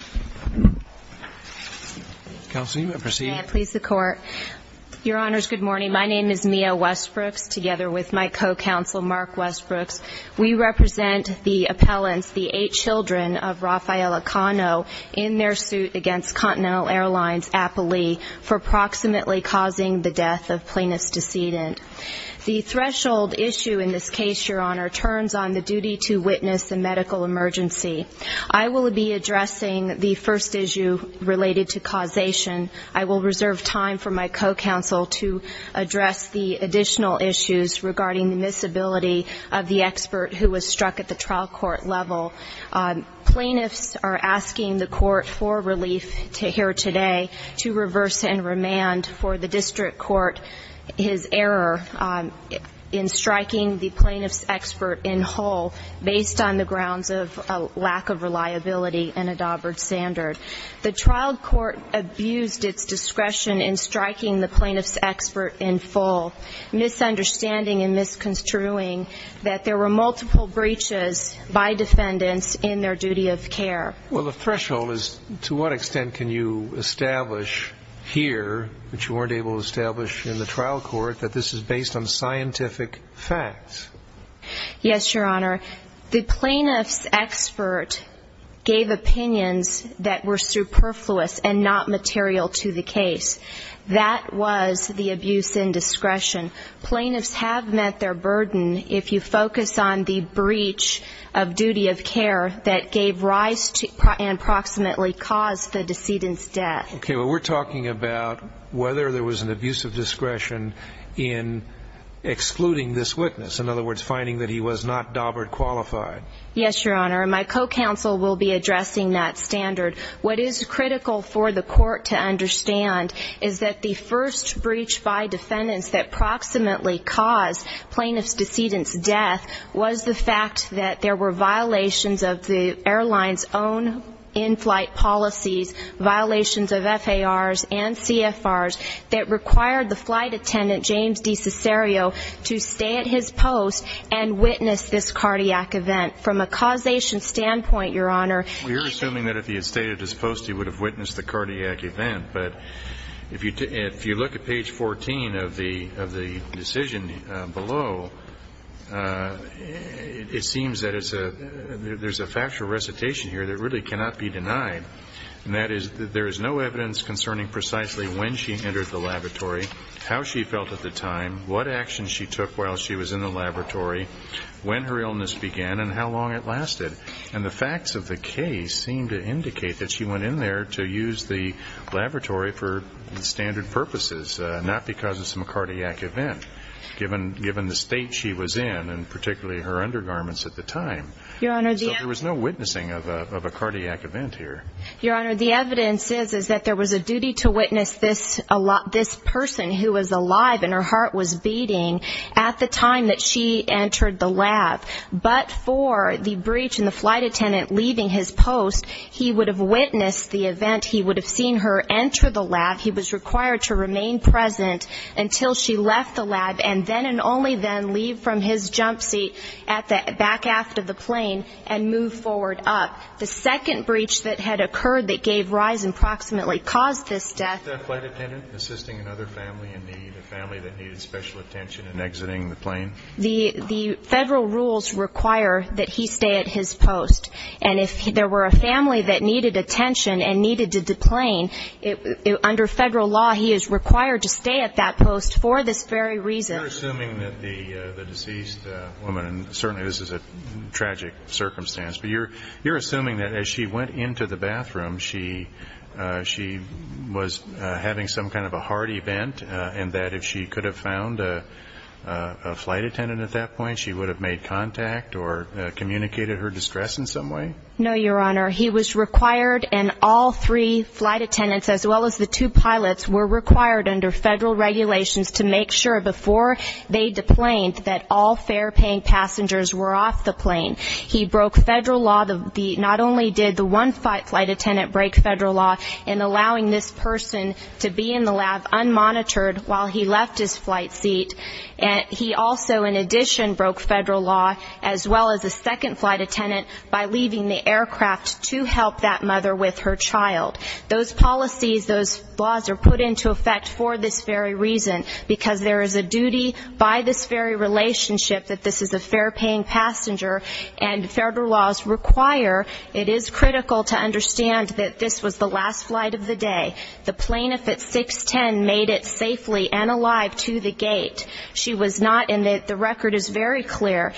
Mia Westbrooks, together with my co-counsel, Mark Westbrooks, we represent the appellants, the eight children of Rafael Acano, in their suit against Continental Airlines, Apolli, for proximately causing the death of plaintiff's decedent. The threshold issue in this case, Your Honor, turns on the duty to witness the medical emergency. I will be addressing the first issue related to causation. I will reserve time for my co-counsel to address the additional issues regarding the misability of the expert who was struck at the trial court level. Plaintiffs are asking the court for relief here today to reverse and remand for the district court his error in striking the plaintiff's expert in whole, based on the grounds of a lack of reliability and a Daubert standard. The trial court abused its discretion in striking the plaintiff's expert in full, misunderstanding and misconstruing that there were multiple breaches by defendants in their duty of care. Well, the threshold is, to what extent can you establish here, which you weren't able to establish in the trial court, that this is based on scientific facts? Yes, Your Honor, the plaintiff's expert gave opinions that were superfluous and not material to the case. That was the abuse in discretion. Plaintiffs have met their burden if you focus on the breach of duty of care that gave rise and proximately caused the decedent's death. Okay, but we're talking about whether there was an abuse of discretion in excluding this witness. In other words, finding that he was not Daubert qualified. Yes, Your Honor, and my co-counsel will be addressing that standard. What is critical for the court to understand is that the first breach by defendants that proximately caused plaintiff's decedent's death was the fact that there were violations of the airline's own in-flight policies, violations of FARs and CFRs that required the flight attendant, James DeCicero, to stay at his post and witness this cardiac event. From a causation standpoint, Your Honor, he... Well, you're assuming that if he had stayed at his post, he would have witnessed the cardiac event, but if you look at page 14 of the decision below, it seems that it's a... There's a factual recitation here that really cannot be denied, and that is that there is no evidence concerning precisely when she entered the laboratory, how she felt at the time, what actions she took while she was in the laboratory, when her illness began, and how long it lasted. And the facts of the case seem to indicate that she went in there to use the laboratory for standard purposes, not because it's a cardiac event, given the state she was in and particularly her undergarments at the time. Your Honor, the... So there was no witnessing of a cardiac event here. Your Honor, the evidence is that there was a duty to witness this person who was alive and her heart was beating at the time that she entered the lab, but for the breach and the flight attendant leaving his post, he would have witnessed the event, he would have seen her enter the lab, he was required to remain present until she left the lab, and then and only then leave from his jump seat at the... Back aft of the plane and move forward up. The second breach that had occurred that gave rise, approximately, caused this death. Was that flight attendant assisting another family in need, a family that needed special attention in exiting the plane? The federal rules require that he stay at his post, and if there were a family that needed attention and needed to deplane, under federal law, he is required to stay at that post for this very reason. You're assuming that the deceased woman, and certainly this is a tragic circumstance, but you're assuming that as she went into the bathroom, she was having some kind of a heart event, and that if she could have found a flight attendant at that point, she would have made contact or communicated her distress in some way? No, Your Honor. He was required, and all three flight attendants, as well as the two pilots, were required under federal regulations to make sure, before they deplaned, that all fair-paying passengers were off the plane. He broke federal law. Not only did the one flight attendant break federal law in allowing this person to be in the lab unmonitored while he left his flight seat, he also, in addition, broke federal law, as well as the second flight attendant, by leaving the aircraft to help that mother with her child. Those policies, those laws are put into effect for this very reason, because there is a duty by this very relationship that this is a fair-paying passenger, and federal laws require, it is critical to understand that this was the last flight of the day. The plaintiff at 610 made it safely and alive to the gate. She was not, and the record is very clear,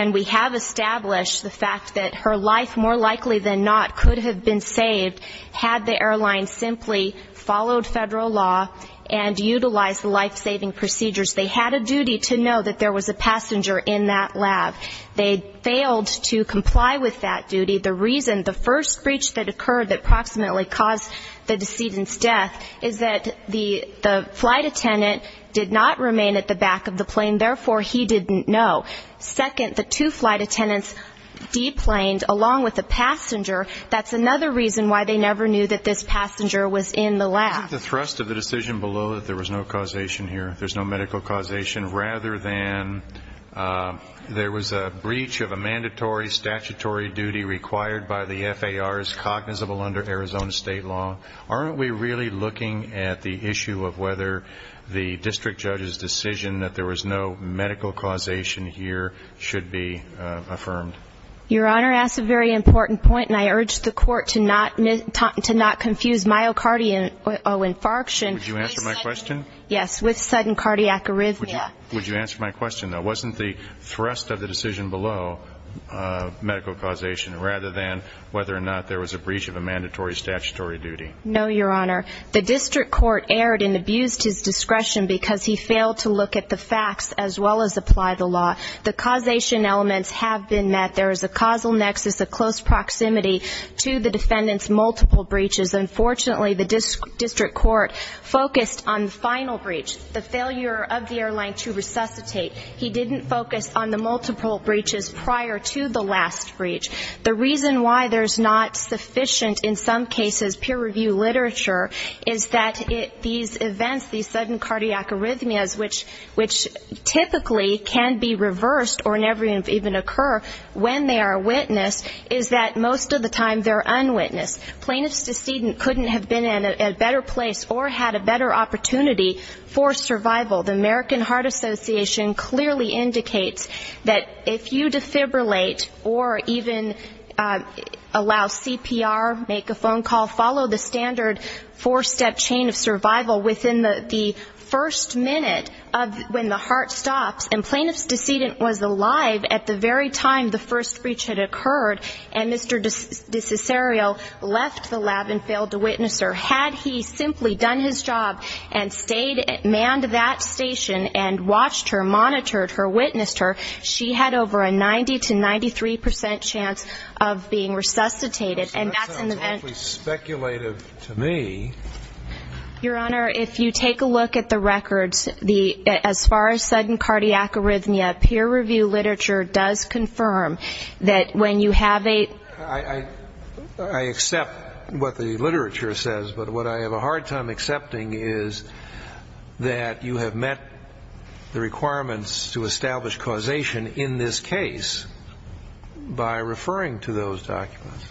and we have established the fact that her life, more likely than not, could have been saved had the airline simply followed federal law and utilized the life-saving procedures. They had a duty to know that there was a passenger in that lab. They failed to comply with that duty. The reason, the first breach that occurred that approximately caused the decedent's death, is that the flight attendant did not remain at the back of the plane, therefore, he didn't know. Second, the two flight attendants de-planed, along with the passenger. That's another reason why they never knew that this passenger was in the lab. I think the thrust of the decision below that there was no causation here, there's no medical causation, rather than there was a breach of a mandatory statutory duty required by the FAR as cognizable under Arizona state law, aren't we really looking at the issue of whether the district judge's decision that there was no medical causation here should be affirmed? Your Honor, that's a very important point, and I urge the court to not confuse myocardial infarction with sudden cardiac arrhythmia. Would you answer my question, though? Wasn't the thrust of the decision below medical causation, rather than whether or not there was a breach of a mandatory statutory duty? No, Your Honor. The district court erred and abused his discretion because he failed to look at the facts as well as apply the law. The causation elements have been met. There is a causal nexus, a close proximity to the defendant's multiple breaches. Unfortunately, the district court focused on the final breach, the failure of the airline to resuscitate. He didn't focus on the multiple breaches prior to the last breach. The reason why there's not sufficient, in some cases, peer-reviewed literature is that these events, these sudden cardiac arrhythmias, which typically can be reversed or never even occur when they are witnessed, is that most of the time they're unwitnessed. Plaintiff's decedent couldn't have been in a better place or had a better opportunity for survival. The American Heart Association clearly indicates that if you defibrillate or even allow CPR, make a phone call, follow the standard four-step chain of survival within the first minute of when the heart stops, and plaintiff's decedent was alive at the very time the first breach had occurred, and Mr. DeCesario left the lab and failed to witness her, had he simply done his job and stayed, manned that station and watched her, monitored her, witnessed her, she had over a 90 to 93 percent chance of being resuscitated. And that's an event. That sounds awfully speculative to me. Your Honor, if you take a look at the records, as far as sudden cardiac arrhythmia, peer-reviewed literature does confirm that when you have a... I accept what the literature says, but what I have a hard time accepting is that you have met the requirements to establish causation in this case by referring to those documents.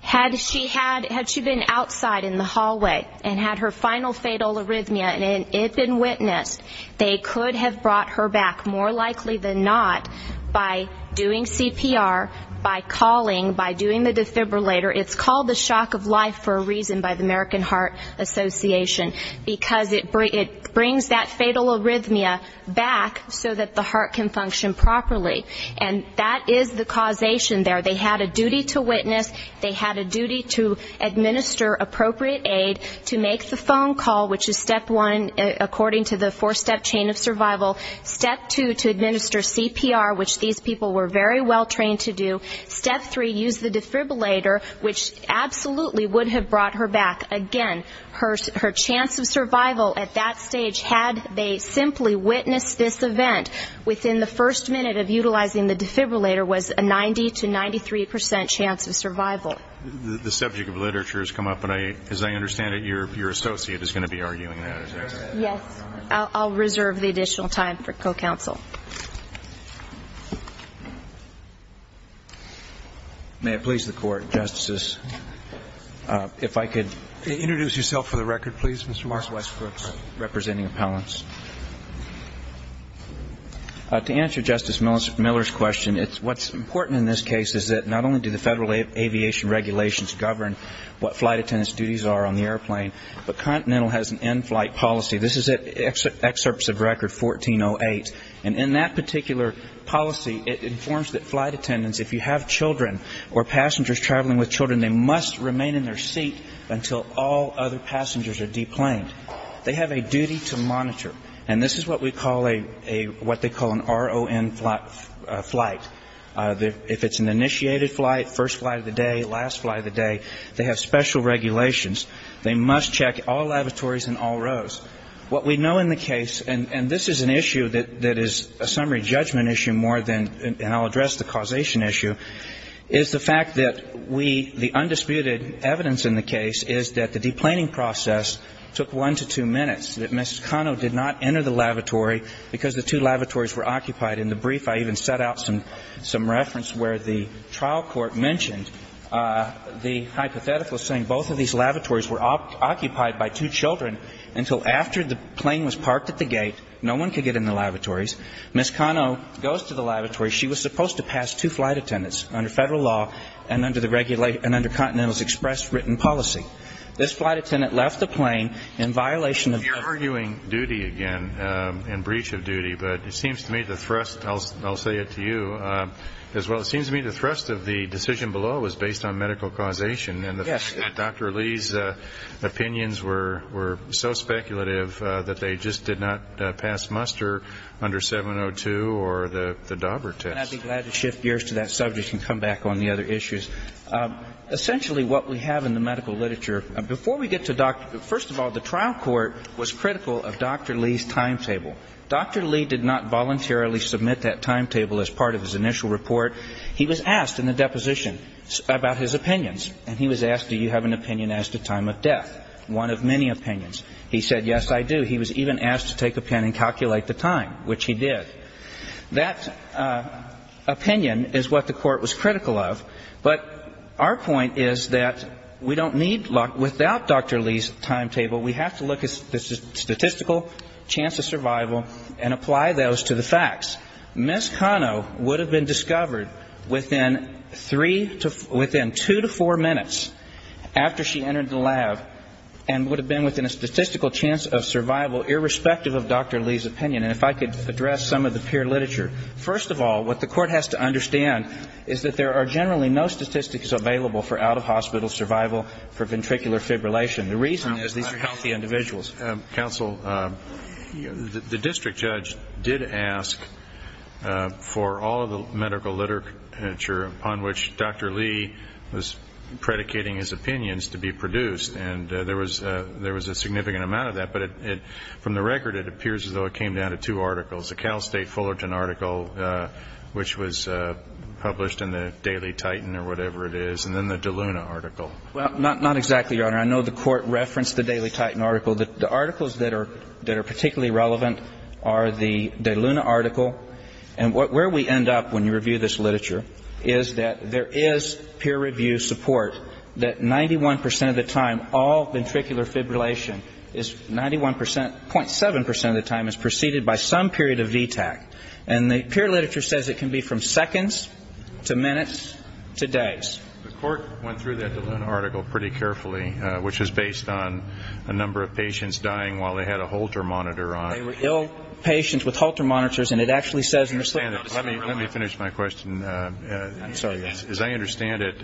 Had she been outside in the hallway and had her final fatal arrhythmia and it had been witnessed, they could have brought her back, more likely than not, by doing CPR, by calling by doing the defibrillator. It's called the shock of life for a reason by the American Heart Association. Because it brings that fatal arrhythmia back so that the heart can function properly. And that is the causation there. They had a duty to witness, they had a duty to administer appropriate aid, to make the phone call, which is step one, according to the four-step chain of survival. Step two, to administer CPR, which these people were very well trained to do. Step three, use the defibrillator, which absolutely would have brought her back. Again, her chance of survival at that stage, had they simply witnessed this event within the first minute of utilizing the defibrillator, was a 90 to 93 percent chance of survival. The subject of literature has come up, and as I understand it, your associate is going to be arguing that, is that right? Yes. I'll reserve the additional time for co-counsel. May it please the Court, Justices. If I could introduce yourself for the record, please, Mr. Marks. Mark Westbrooks, representing appellants. To answer Justice Miller's question, it's what's important in this case is that not only do the federal aviation regulations govern what flight attendance duties are on the airplane, but Continental has an in-flight policy. This is excerpts of record 1408, and in that particular policy, it informs that flight attendance, if you have children or passengers traveling with children, they must remain in their seat until all other passengers are deplaned. They have a duty to monitor, and this is what we call a, what they call an RON flight. If it's an initiated flight, first flight of the day, last flight of the day, they have special regulations. They must check all lavatories in all rows. What we know in the case, and this is an issue that is a summary judgment issue more than an, and I'll address the causation issue, is the fact that we, the undisputed evidence in the case is that the deplaning process took one to two minutes, that Ms. Cano did not enter the lavatory because the two lavatories were occupied. In the brief, I even set out some, some reference where the trial court mentioned the hypothetical saying both of these lavatories were occupied by two children until after the plane was parked at the gate, no one could get in the lavatories. Ms. Cano goes to the lavatory. She was supposed to pass two flight attendants under federal law and under the, and under Continental's express written policy. This flight attendant left the plane in violation of. You're arguing duty again and breach of duty, but it seems to me the thrust, I'll say it to you, as well, it seems to me the thrust of the decision below was based on medical causation. Yes. And Dr. Lee's opinions were, were so speculative that they just did not pass muster under 702 or the, the Dauber test. And I'd be glad to shift gears to that subject and come back on the other issues. Essentially what we have in the medical literature, before we get to, first of all, the trial court was critical of Dr. Lee's timetable. Dr. Lee did not voluntarily submit that timetable as part of his initial report. He was asked in the deposition about his opinions. And he was asked, do you have an opinion as to time of death? One of many opinions. He said, yes, I do. He was even asked to take a pen and calculate the time, which he did. That opinion is what the court was critical of. But our point is that we don't need, without Dr. Lee's timetable, we have to look at the statistical chance of survival and apply those to the facts. Ms. Cano would have been discovered within three to, within two to four minutes after she entered the lab and would have been within a statistical chance of survival, irrespective of Dr. Lee's opinion. And if I could address some of the peer literature. First of all, what the court has to understand is that there are generally no statistics available for out-of-hospital survival for ventricular fibrillation. The reason is these are healthy individuals. Counsel, the district judge did ask for all of the medical literature upon which Dr. Lee was predicating his opinions to be produced. And there was a significant amount of that. But from the record, it appears as though it came down to two articles, the Cal State Fullerton article, which was published in the Daily Titan or whatever it is, Well, not exactly, Your Honor. I know the court referenced the Daily Titan article. The articles that are particularly relevant are the De Luna article. And where we end up when you review this literature is that there is peer review support that 91 percent of the time, all ventricular fibrillation is 91 percent, 0.7 percent of the time, is preceded by some period of VTAC. And the peer literature says it can be from seconds to minutes to days. The court went through that De Luna article pretty carefully, which was based on a number of patients dying while they had a Holter monitor on. They were ill patients with Holter monitors, and it actually says in the slip notes that they were alive. Let me finish my question. I'm sorry, Your Honor. As I understand it,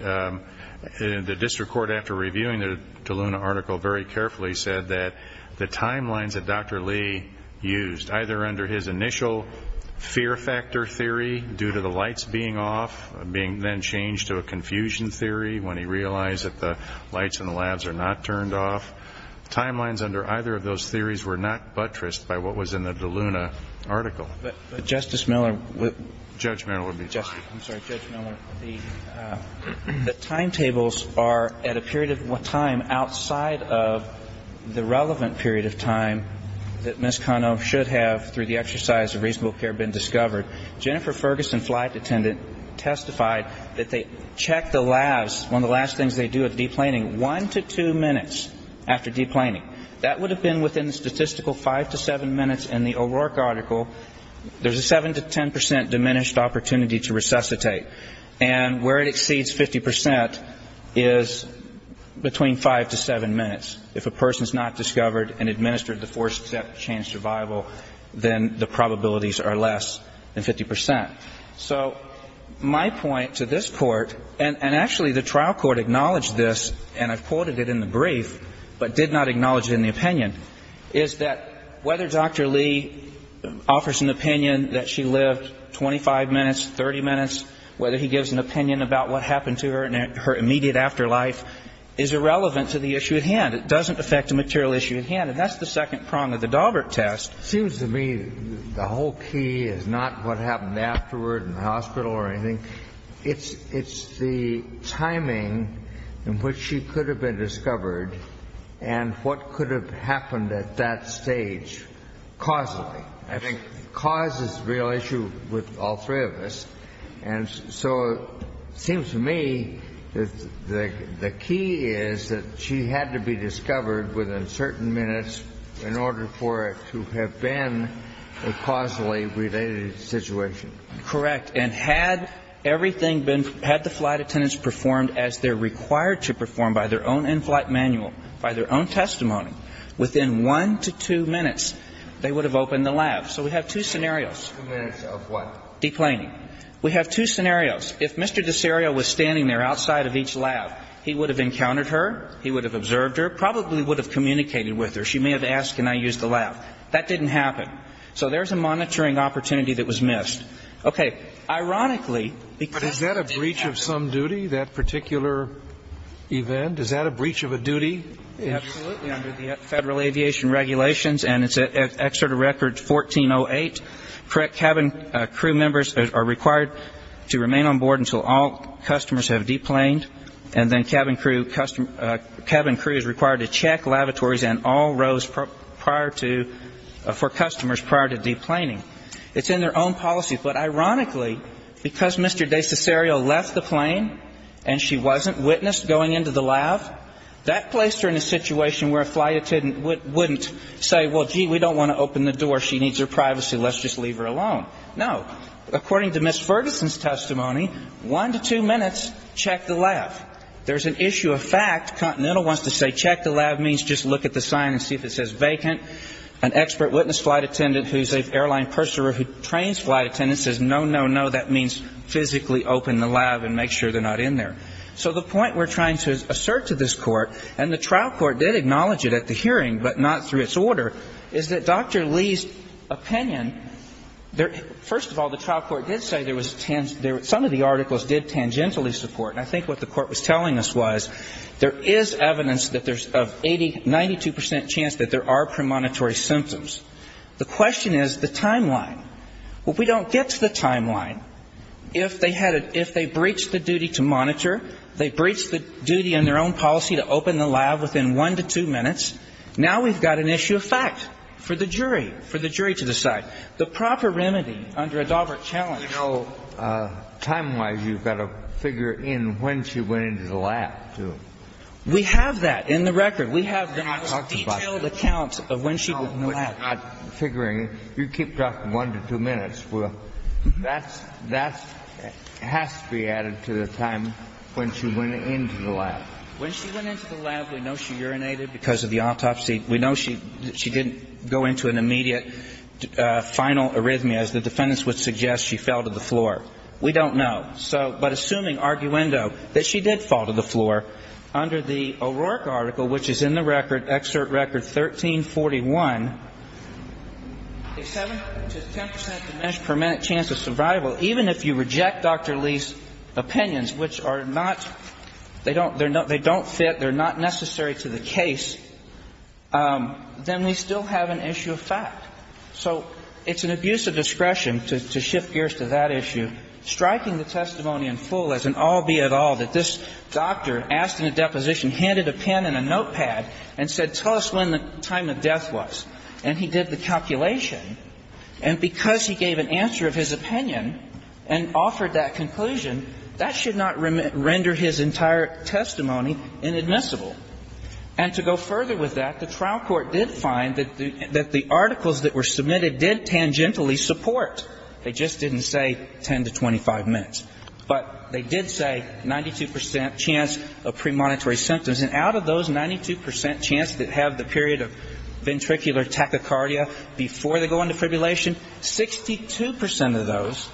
the district court, after reviewing the De Luna article, very carefully said that the timelines that Dr. Lee used, either under his initial fear factor theory due to the lights being off, being then changed to a confusion theory when he realized that the lights in the labs are not turned off, timelines under either of those theories were not buttressed by what was in the De Luna article. But, Justice Miller. Judge Miller will be fine. I'm sorry. Judge Miller, the timetables are at a period of time outside of the relevant period of time that Ms. Kano should have, through the exercise of reasonable care, been discovered. Jennifer Ferguson, flight attendant, testified that they checked the labs, one of the last things they do at deplaning, one to two minutes after deplaning. That would have been within the statistical five to seven minutes in the O'Rourke article. There's a 7 to 10 percent diminished opportunity to resuscitate. And where it exceeds 50 percent is between five to seven minutes. If a person is not discovered and administered the four-step chain survival, then the probabilities are less than 50 percent. So my point to this Court, and actually the trial court acknowledged this, and I've quoted it in the brief, but did not acknowledge it in the opinion, is that whether Dr. Lee offers an opinion that she lived 25 minutes, 30 minutes, whether he gives an opinion about what happened to her in her immediate afterlife is irrelevant to the issue at hand. It doesn't affect the material issue at hand. And that's the second prong of the Daubert test. It seems to me the whole key is not what happened afterward in the hospital or anything. It's the timing in which she could have been discovered and what could have happened at that stage causally. I think cause is the real issue with all three of us. And so it seems to me that the key is that she had to be discovered within certain minutes in order for it to have been a causally related situation. Correct. And had everything been, had the flight attendants performed as they're required to perform by their own in-flight manual, by their own testimony, within one to two minutes, they would have opened the lab. So we have two scenarios. Two minutes of what? Deplaining. We have two scenarios. If Mr. Desario was standing there outside of each lab, he would have encountered her, he would have observed her, probably would have communicated with her. She may have asked, can I use the lab? That didn't happen. So there's a monitoring opportunity that was missed. Okay. Ironically, because it did happen. But is that a breach of some duty, that particular event? Is that a breach of a duty? Absolutely. Under the Federal Aviation Regulations, and it's at Excerpt of Record 1408, cabin crew members are required to remain on board until all customers have deplaned, and then cabin crew is required to check lavatories and all rows prior to, for customers prior to deplaning. It's in their own policy. But ironically, because Mr. Desario left the plane and she wasn't witnessed going into the lab, that placed her in a situation where a flight attendant wouldn't say, well, gee, we don't want to open the door, she needs her privacy, let's just leave her alone. No. According to Ms. Ferguson's testimony, one to two minutes, check the lab. There's an issue of fact. Continental wants to say check the lab means just look at the sign and see if it says vacant. An expert witness flight attendant who's an airline purser who trains flight attendants says no, no, no, that means physically open the lab and make sure they're not in there. So the point we're trying to assert to this Court, and the trial court did acknowledge it at the hearing, but not through its order, is that Dr. Lee's opinion, first of all, the trial court did say there was, some of the articles did tangentially support, and I think what the Court was telling us was there is evidence that there's a 92% chance that there are premonitory symptoms. The question is the timeline. If we don't get to the timeline, if they had, if they breached the duty to monitor, they breached the duty in their own policy to open the lab within one to two minutes, now we've got an issue of fact for the jury, for the jury to decide. The proper remedy under a Daubert challenge. You know, time-wise, you've got to figure in when she went into the lab, too. We have that in the record. We have the most detailed account of when she went into the lab. I'm not figuring. You keep talking one to two minutes. Well, that's, that has to be added to the time when she went into the lab. When she went into the lab, we know she urinated because of the autopsy. We know she didn't go into an immediate final arrhythmia, as the defendants would suggest, she fell to the floor. We don't know. So, but assuming arguendo, that she did fall to the floor, under the O'Rourke article, which is in the record, excerpt record 1341, a 7 to 10 percent diminished per minute chance of survival, even if you reject Dr. Lee's opinions, which are not, they don't fit, they're not necessary to the case, then we still have an issue of fact. So it's an abuse of discretion to shift gears to that issue. And in the case of the trial, the trial court had an opinion, striking the testimony in full as an all be it all, that this doctor asked in a deposition, handed a pen and a notepad and said, tell us when the time of death was. And he did the calculation. And because he gave an answer of his opinion and offered that conclusion, that should not render his entire testimony inadmissible. And to go further with that, the trial court did find that the articles that were submitted did tangentially support. They just didn't say 10 to 25 minutes. But they did say 92 percent chance of premonitory symptoms. And out of those 92 percent chance that have the period of ventricular tachycardia before they go into fibrillation, 62 percent of those,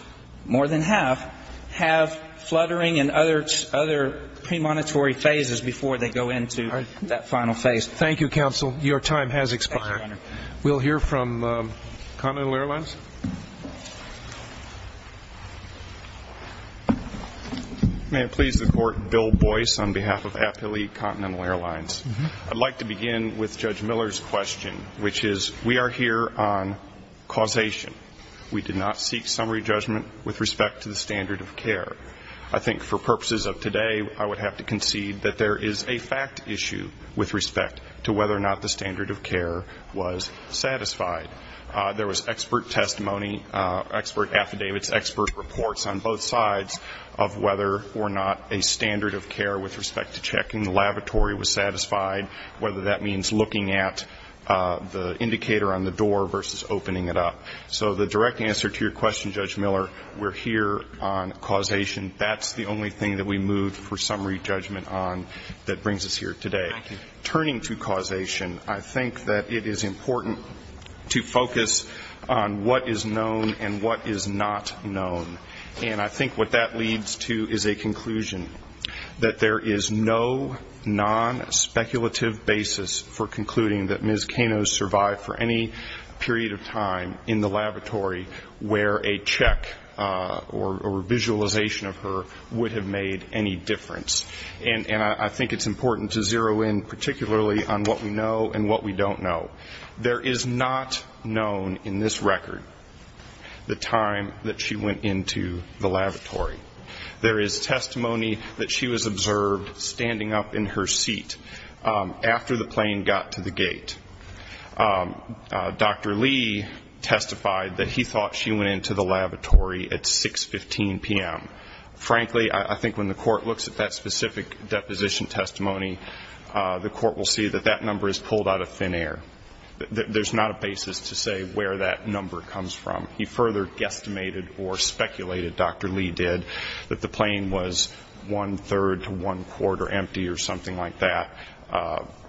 more than half, have fluttering and other premonitory phases before they go into fibrillation. All right. That final phase. Thank you, counsel. Your time has expired. Thank you, Your Honor. We'll hear from Continental Airlines. May it please the Court, Bill Boyce on behalf of Appalachian Continental Airlines. I'd like to begin with Judge Miller's question, which is, we are here on causation. We did not seek summary judgment with respect to the standard of care. I think for purposes of today, I would have to concede that there is a fact issue with respect to whether or not the standard of care was satisfied. There was expert testimony, expert affidavits, expert reports on both sides of whether or not a standard of care with respect to checking the lavatory was satisfied, whether that means looking at the indicator on the door versus opening it up. So the direct answer to your question, Judge Miller, we're here on causation. That's the only thing that we moved for summary judgment on that brings us here today. Turning to causation, I think that it is important to focus on what is known and what is not known. And I think what that leads to is a conclusion, that there is no non-speculative basis for concluding that Ms. where a check or visualization of her would have made any difference. And I think it's important to zero in particularly on what we know and what we don't know. There is not known in this record the time that she went into the lavatory. There is testimony that she was observed standing up in her seat after the plane got to the gate. Dr. Lee testified that he thought she went into the lavatory at 6.15 p.m. Frankly, I think when the court looks at that specific deposition testimony, the court will see that that number is pulled out of thin air. There's not a basis to say where that number comes from. He further guesstimated or speculated, Dr. Lee did, that the plane was one-third to one-quarter empty or something like that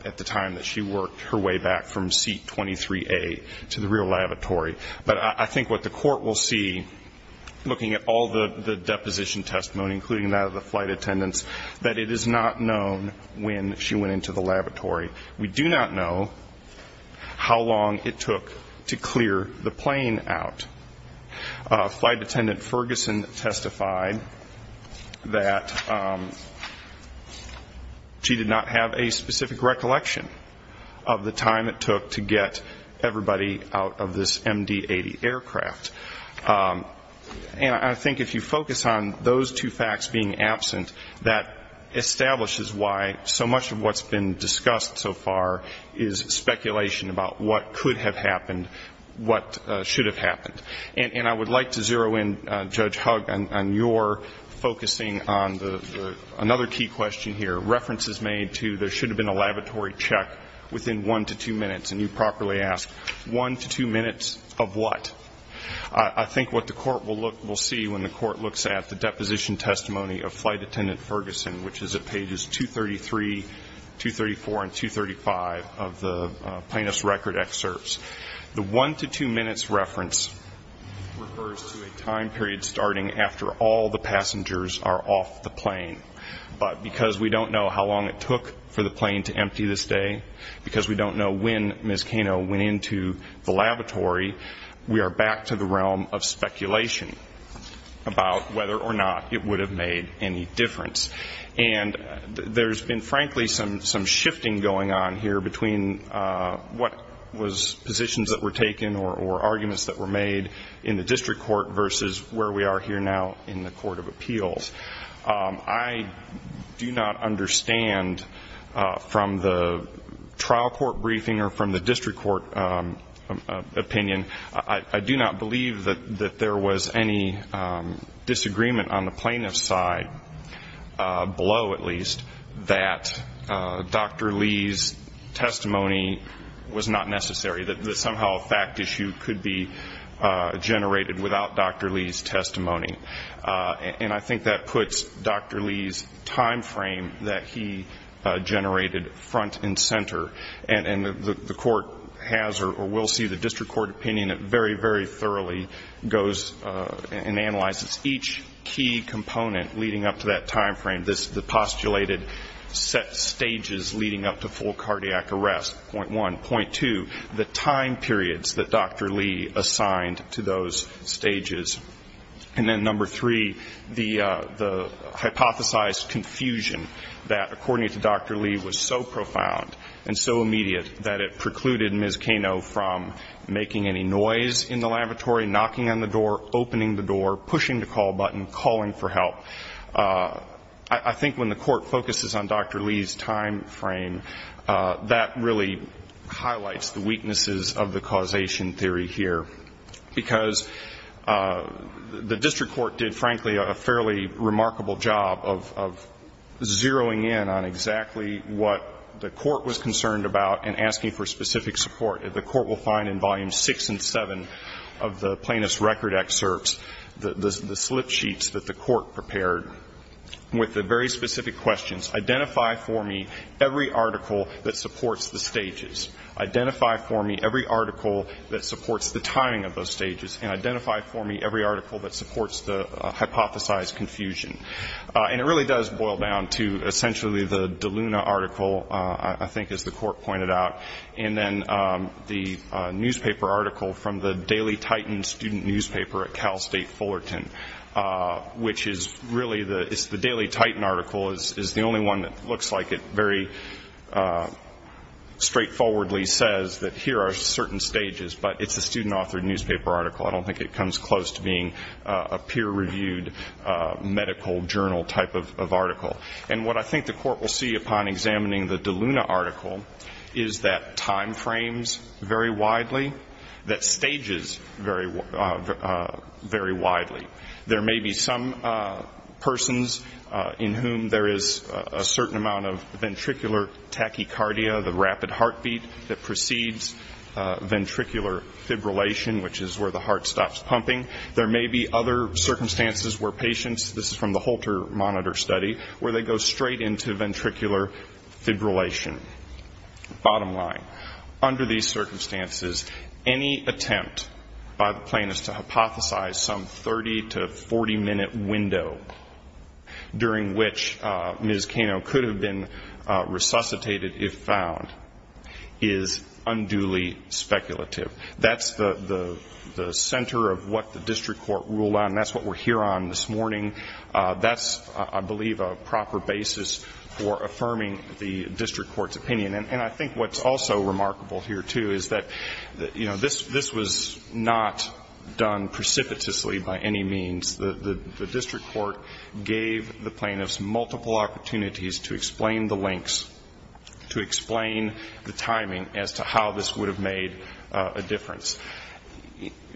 at the time that she worked her way back from seat 23A to the real lavatory. But I think what the court will see, looking at all the deposition testimony, including that of the flight attendants, that it is not known when she went into the lavatory. We do not know how long it took to clear the plane out. Flight attendant Ferguson testified that she did not have a specific recollection of the time it took to get everybody out of this MD-80 aircraft. And I think if you focus on those two facts being absent, that establishes why so much of what's been discussed so far is speculation about what could have happened, what should have happened. And I would like to zero in, Judge Hugg, on your focusing on another key question here, references made to there should have been a lavatory check within one to two minutes. And you properly asked, one to two minutes of what? I think what the court will see when the court looks at the deposition testimony of flight attendant Ferguson, which is at pages 233, 234, and 235 of the plaintiff's record excerpts, the one to two minutes reference refers to a time period starting after all the passengers are off the plane. But because we don't know how long it took for the plane to empty this day, because we don't know when Ms. Cano went into the laboratory, we are back to the realm of speculation about whether or not it would have made any difference. And there's been, frankly, some shifting going on here between what was positions that were taken or arguments that were made in the district court versus where we are here now in the court of appeals. I do not understand from the trial court briefing or from the district court opinion, I do not believe that there was any disagreement on the plaintiff's side, below at least, that Dr. Lee's testimony was not necessary, that somehow a fact issue could be generated without Dr. Lee's testimony. And I think that puts Dr. Lee's time frame that he generated front and center. And the court has or will see the district court opinion that very, very thoroughly goes and analyzes each key component leading up to that time frame, the postulated set stages leading up to full cardiac arrest, point one. Point two, the time periods that Dr. Lee assigned to those stages. And then number three, the hypothesized confusion that, according to Dr. Lee, was so profound and so immediate that it precluded Ms. Kano from making any noise in the laboratory, knocking on the door, opening the door, pushing the call button, calling for help. I think when the court focuses on Dr. Lee's time frame, that really highlights the weaknesses of the causation theory here, because the district court did, frankly, a fairly remarkable job of zeroing in on exactly what the court was concerned about and asking for specific support. The court will find in volumes 6 and 7 of the plaintiff's record excerpts the slip sheets that the court prepared with the very specific questions, identify for me every article that supports the stages, identify for me every article that supports the timing of those stages, and identify for me every article that supports the hypothesized confusion. And it really does boil down to essentially the DeLuna article, I think, as the court pointed out, and then the newspaper article from the Daily Titan student newspaper at Cal State Fullerton, which is really the Daily Titan article is the only one that looks like it very straightforwardly says that here are certain stages, but it's a student-authored newspaper article. I don't think it comes close to being a peer-reviewed medical journal type of article. And what I think the court will see upon examining the DeLuna article is that time frames very widely, that stages vary widely. There may be some persons in whom there is a certain amount of ventricular tachycardia, the rapid heartbeat that precedes ventricular fibrillation, which is where the heart stops pumping. There may be other circumstances where patients, this is from the Holter monitor study, where they go straight into ventricular fibrillation, bottom line. Under these circumstances, any attempt by the plaintiff to hypothesize some 30 to 40-minute window during which Ms. Kano could have been resuscitated if found is unduly speculative. That's the center of what the district court ruled on. That's what we're here on this morning. That's, I believe, a proper basis for affirming the district court's opinion. And I think what's also remarkable here, too, is that, you know, this was not done precipitously by any means. The district court gave the plaintiffs multiple opportunities to explain the links, to explain the timing as to how this would have made a difference.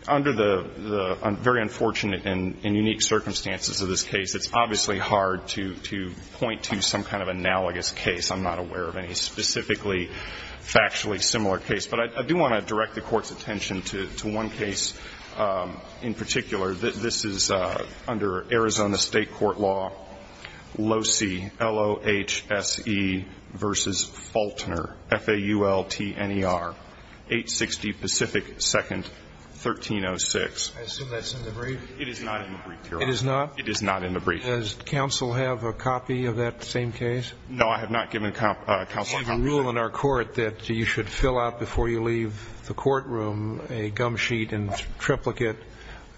Under the very unfortunate and unique circumstances of this case, it's obviously hard to point to some kind of analogous case. I'm not aware of any specifically factually similar case. But I do want to direct the Court's attention to one case in particular. This is under Arizona State Court Law, LOHSE versus Faultner, F-A-U-L-T-N-E-R, 860 Pacific 2nd, 1306. I assume that's in the brief. It is not in the brief, Your Honor. It is not? It is not in the brief. Does counsel have a copy of that same case? No, I have not given counsel a copy of it. Do you have a rule in our court that you should fill out before you leave the courtroom a gum sheet and triplicate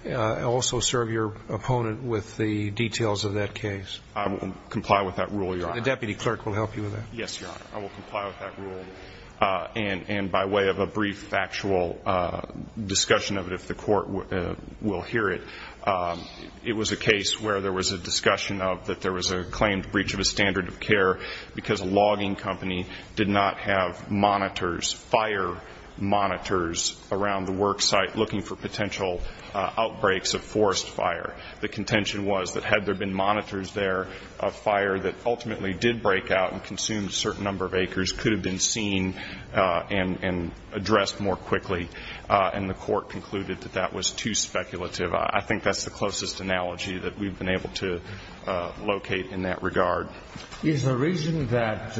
and also serve your opponent with the details of that case? I will comply with that rule, Your Honor. The deputy clerk will help you with that. Yes, Your Honor. I will comply with that rule. And by way of a brief factual discussion of it, if the Court will hear it, it was a case where there was a discussion of that there was a claimed breach of a standard of care because a logging company did not have monitors, fire monitors around the work site looking for potential outbreaks of forest fire. The contention was that had there been monitors there, a fire that ultimately did break out and consume a certain number of acres could have been seen and addressed more quickly, and the Court concluded that that was too speculative. I think that's the closest analogy that we've been able to locate in that regard. Is the reason that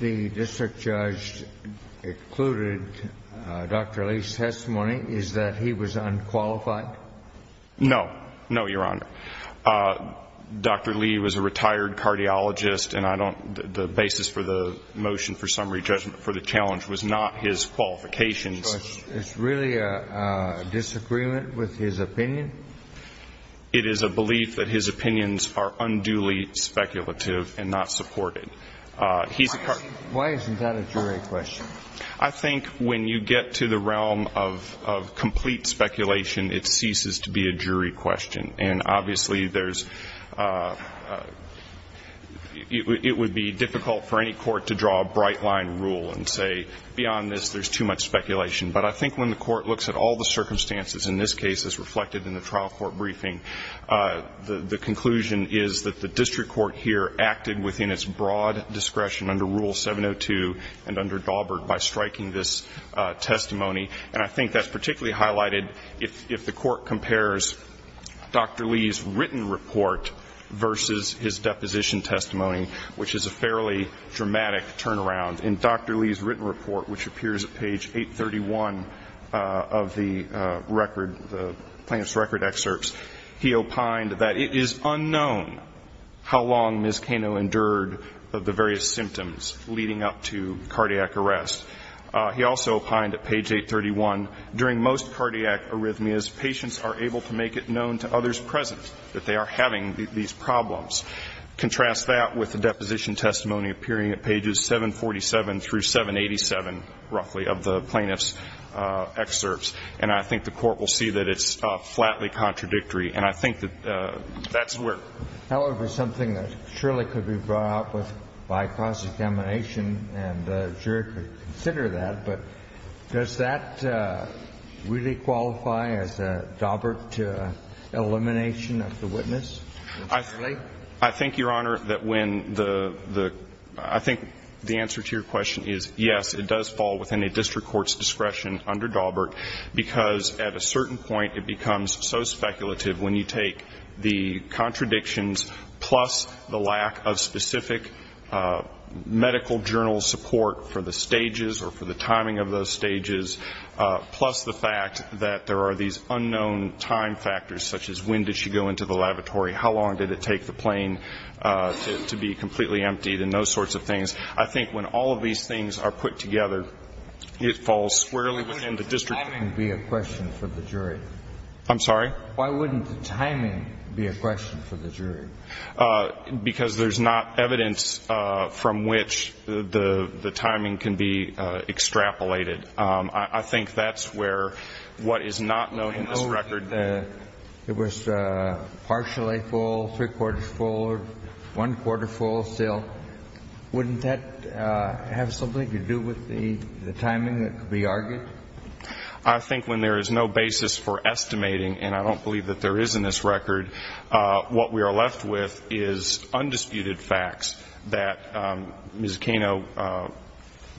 the district judge included Dr. Lee's testimony is that he was unqualified? No. No, Your Honor. Dr. Lee was a retired cardiologist, and I don't the basis for the motion for summary judgment for the challenge was not his qualifications. So it's really a disagreement with his opinion? It is a belief that his opinions are unduly speculative and not supported. Why isn't that a jury question? I think when you get to the realm of complete speculation, it ceases to be a jury question. And obviously there's – it would be difficult for any court to draw a bright-line rule and say beyond this there's too much speculation. But I think when the Court looks at all the circumstances in this case as reflected in the trial court briefing, the conclusion is that the district court here acted within its broad discretion under Rule 702 and under Daubert by striking this testimony. And I think that's particularly highlighted if the Court compares Dr. Lee's written report versus his deposition testimony, which is a fairly dramatic turnaround. In Dr. Lee's written report, which appears at page 831 of the record, the plaintiff's record excerpts, he opined that it is unknown how long Ms. Cano endured the various symptoms leading up to cardiac arrest. He also opined at page 831, during most cardiac arrhythmias, patients are able to make it known to others present that they are having these problems. Contrast that with the deposition testimony appearing at pages 747 through 787, roughly, of the plaintiff's excerpts. And I think the Court will see that it's flatly contradictory. And I think that that's where – However, something that surely could be brought up with by cross-examination and the jury could consider that, but does that really qualify as a Daubert elimination of the witness? I think, Your Honor, that when the – I think the answer to your question is yes, it does fall within a district court's discretion under Daubert, because at a certain point it becomes so speculative when you take the contradictions plus the lack of specific medical journal support for the stages or for the timing of those stages, plus the fact that there are these unknown time factors, such as when did she go into the lavatory, how long did it take the plane to be completely emptied and those sorts of things. I think when all of these things are put together, it falls squarely within the district. Why wouldn't the timing be a question for the jury? I'm sorry? Why wouldn't the timing be a question for the jury? Because there's not evidence from which the timing can be extrapolated. I think that's where what is not known in this record that it was partially full, three-quarters full, or one-quarter full still. Wouldn't that have something to do with the timing that could be argued? I think when there is no basis for estimating, and I don't believe that there is in this record, what we are left with is undisputed facts that Ms. Cano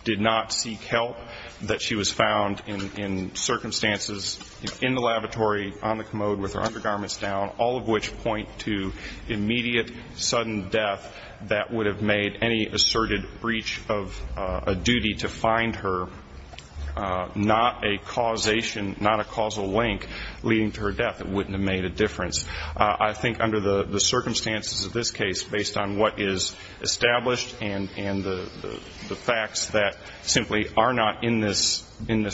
did not seek help, that she was found in circumstances in the lavatory, on the commode with her undergarments down, all of which point to immediate sudden death that would have made any asserted breach of a duty to find her, not a causation, not a causal link leading to her death, it wouldn't have made a difference. I think under the circumstances of this case, based on what is established and the facts that simply are not in this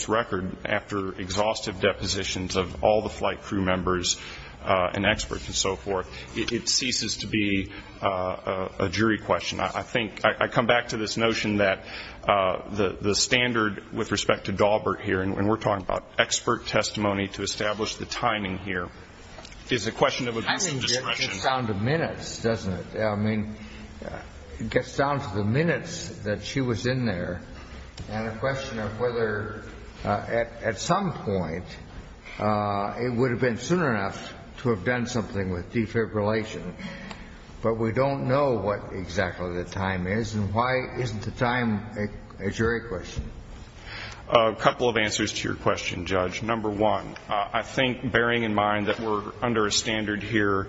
record, after exhaustive depositions of all the flight crew members and experts and so forth, it ceases to be a jury question. I think I come back to this notion that the standard with respect to Daubert here, and we're talking about expert testimony to establish the timing here, is a question of abuse of discretion. I think it gets down to minutes, doesn't it? I mean, it gets down to the minutes that she was in there, and a question of whether at some point it would have been soon enough to have done something with defibrillation. But we don't know what exactly the time is, and why isn't the time a jury question? A couple of answers to your question, Judge. Number one, I think bearing in mind that we're under a standard here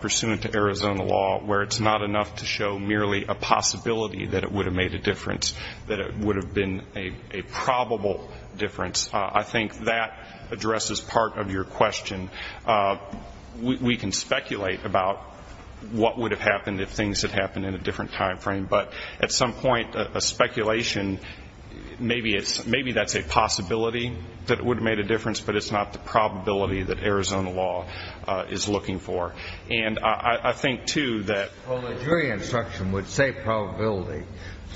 pursuant to Arizona law where it's not enough to show merely a possibility that it would have made a difference, that it would have been a probable difference, I think that addresses part of your question. We can speculate about what would have happened if things had happened in a different time frame, but at some point a speculation, maybe that's a possibility that it would have made a difference, but it's not the probability that Arizona law is looking for. And I think, too, that the jury instruction would say probability,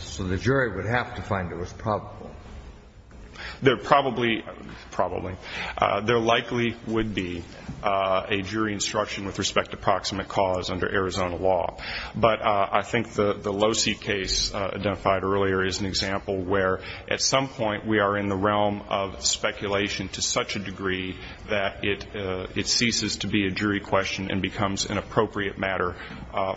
so the jury would have to find it was probable. There probably would be a jury instruction with respect to proximate cause under Arizona law. But I think the Losi case identified earlier is an example where at some point we are in the realm of speculation to such a degree that it ceases to be a jury question and becomes an appropriate matter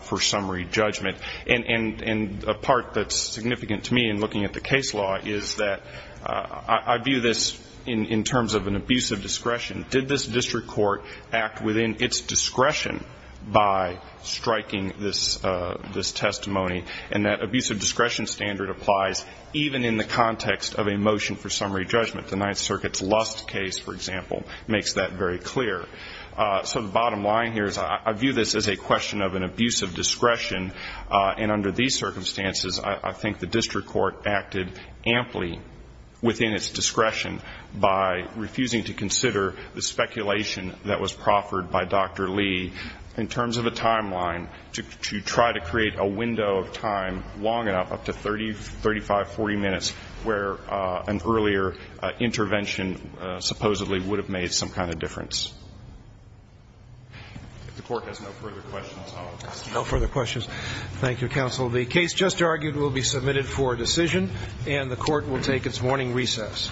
for summary judgment. And a part that's significant to me in looking at the case law is that I view this in terms of an abusive discretion. Did this district court act within its discretion by striking this testimony? And that abusive discretion standard applies even in the context of a motion for summary judgment. The Ninth Circuit's Lust case, for example, makes that very clear. So the bottom line here is I view this as a question of an abusive discretion, and under these circumstances I think the district court acted amply within its discretion by refusing to consider the speculation that was proffered by Dr. Lee in terms of a timeline to try to create a window of time long enough, up to 30, 35, 40 minutes, where an earlier intervention supposedly would have made some kind of difference. If the Court has no further questions, I'll ask the question. No further questions. Thank you, Counsel. The case just argued will be submitted for decision, and the Court will take its morning recess.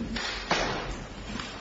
Thank you.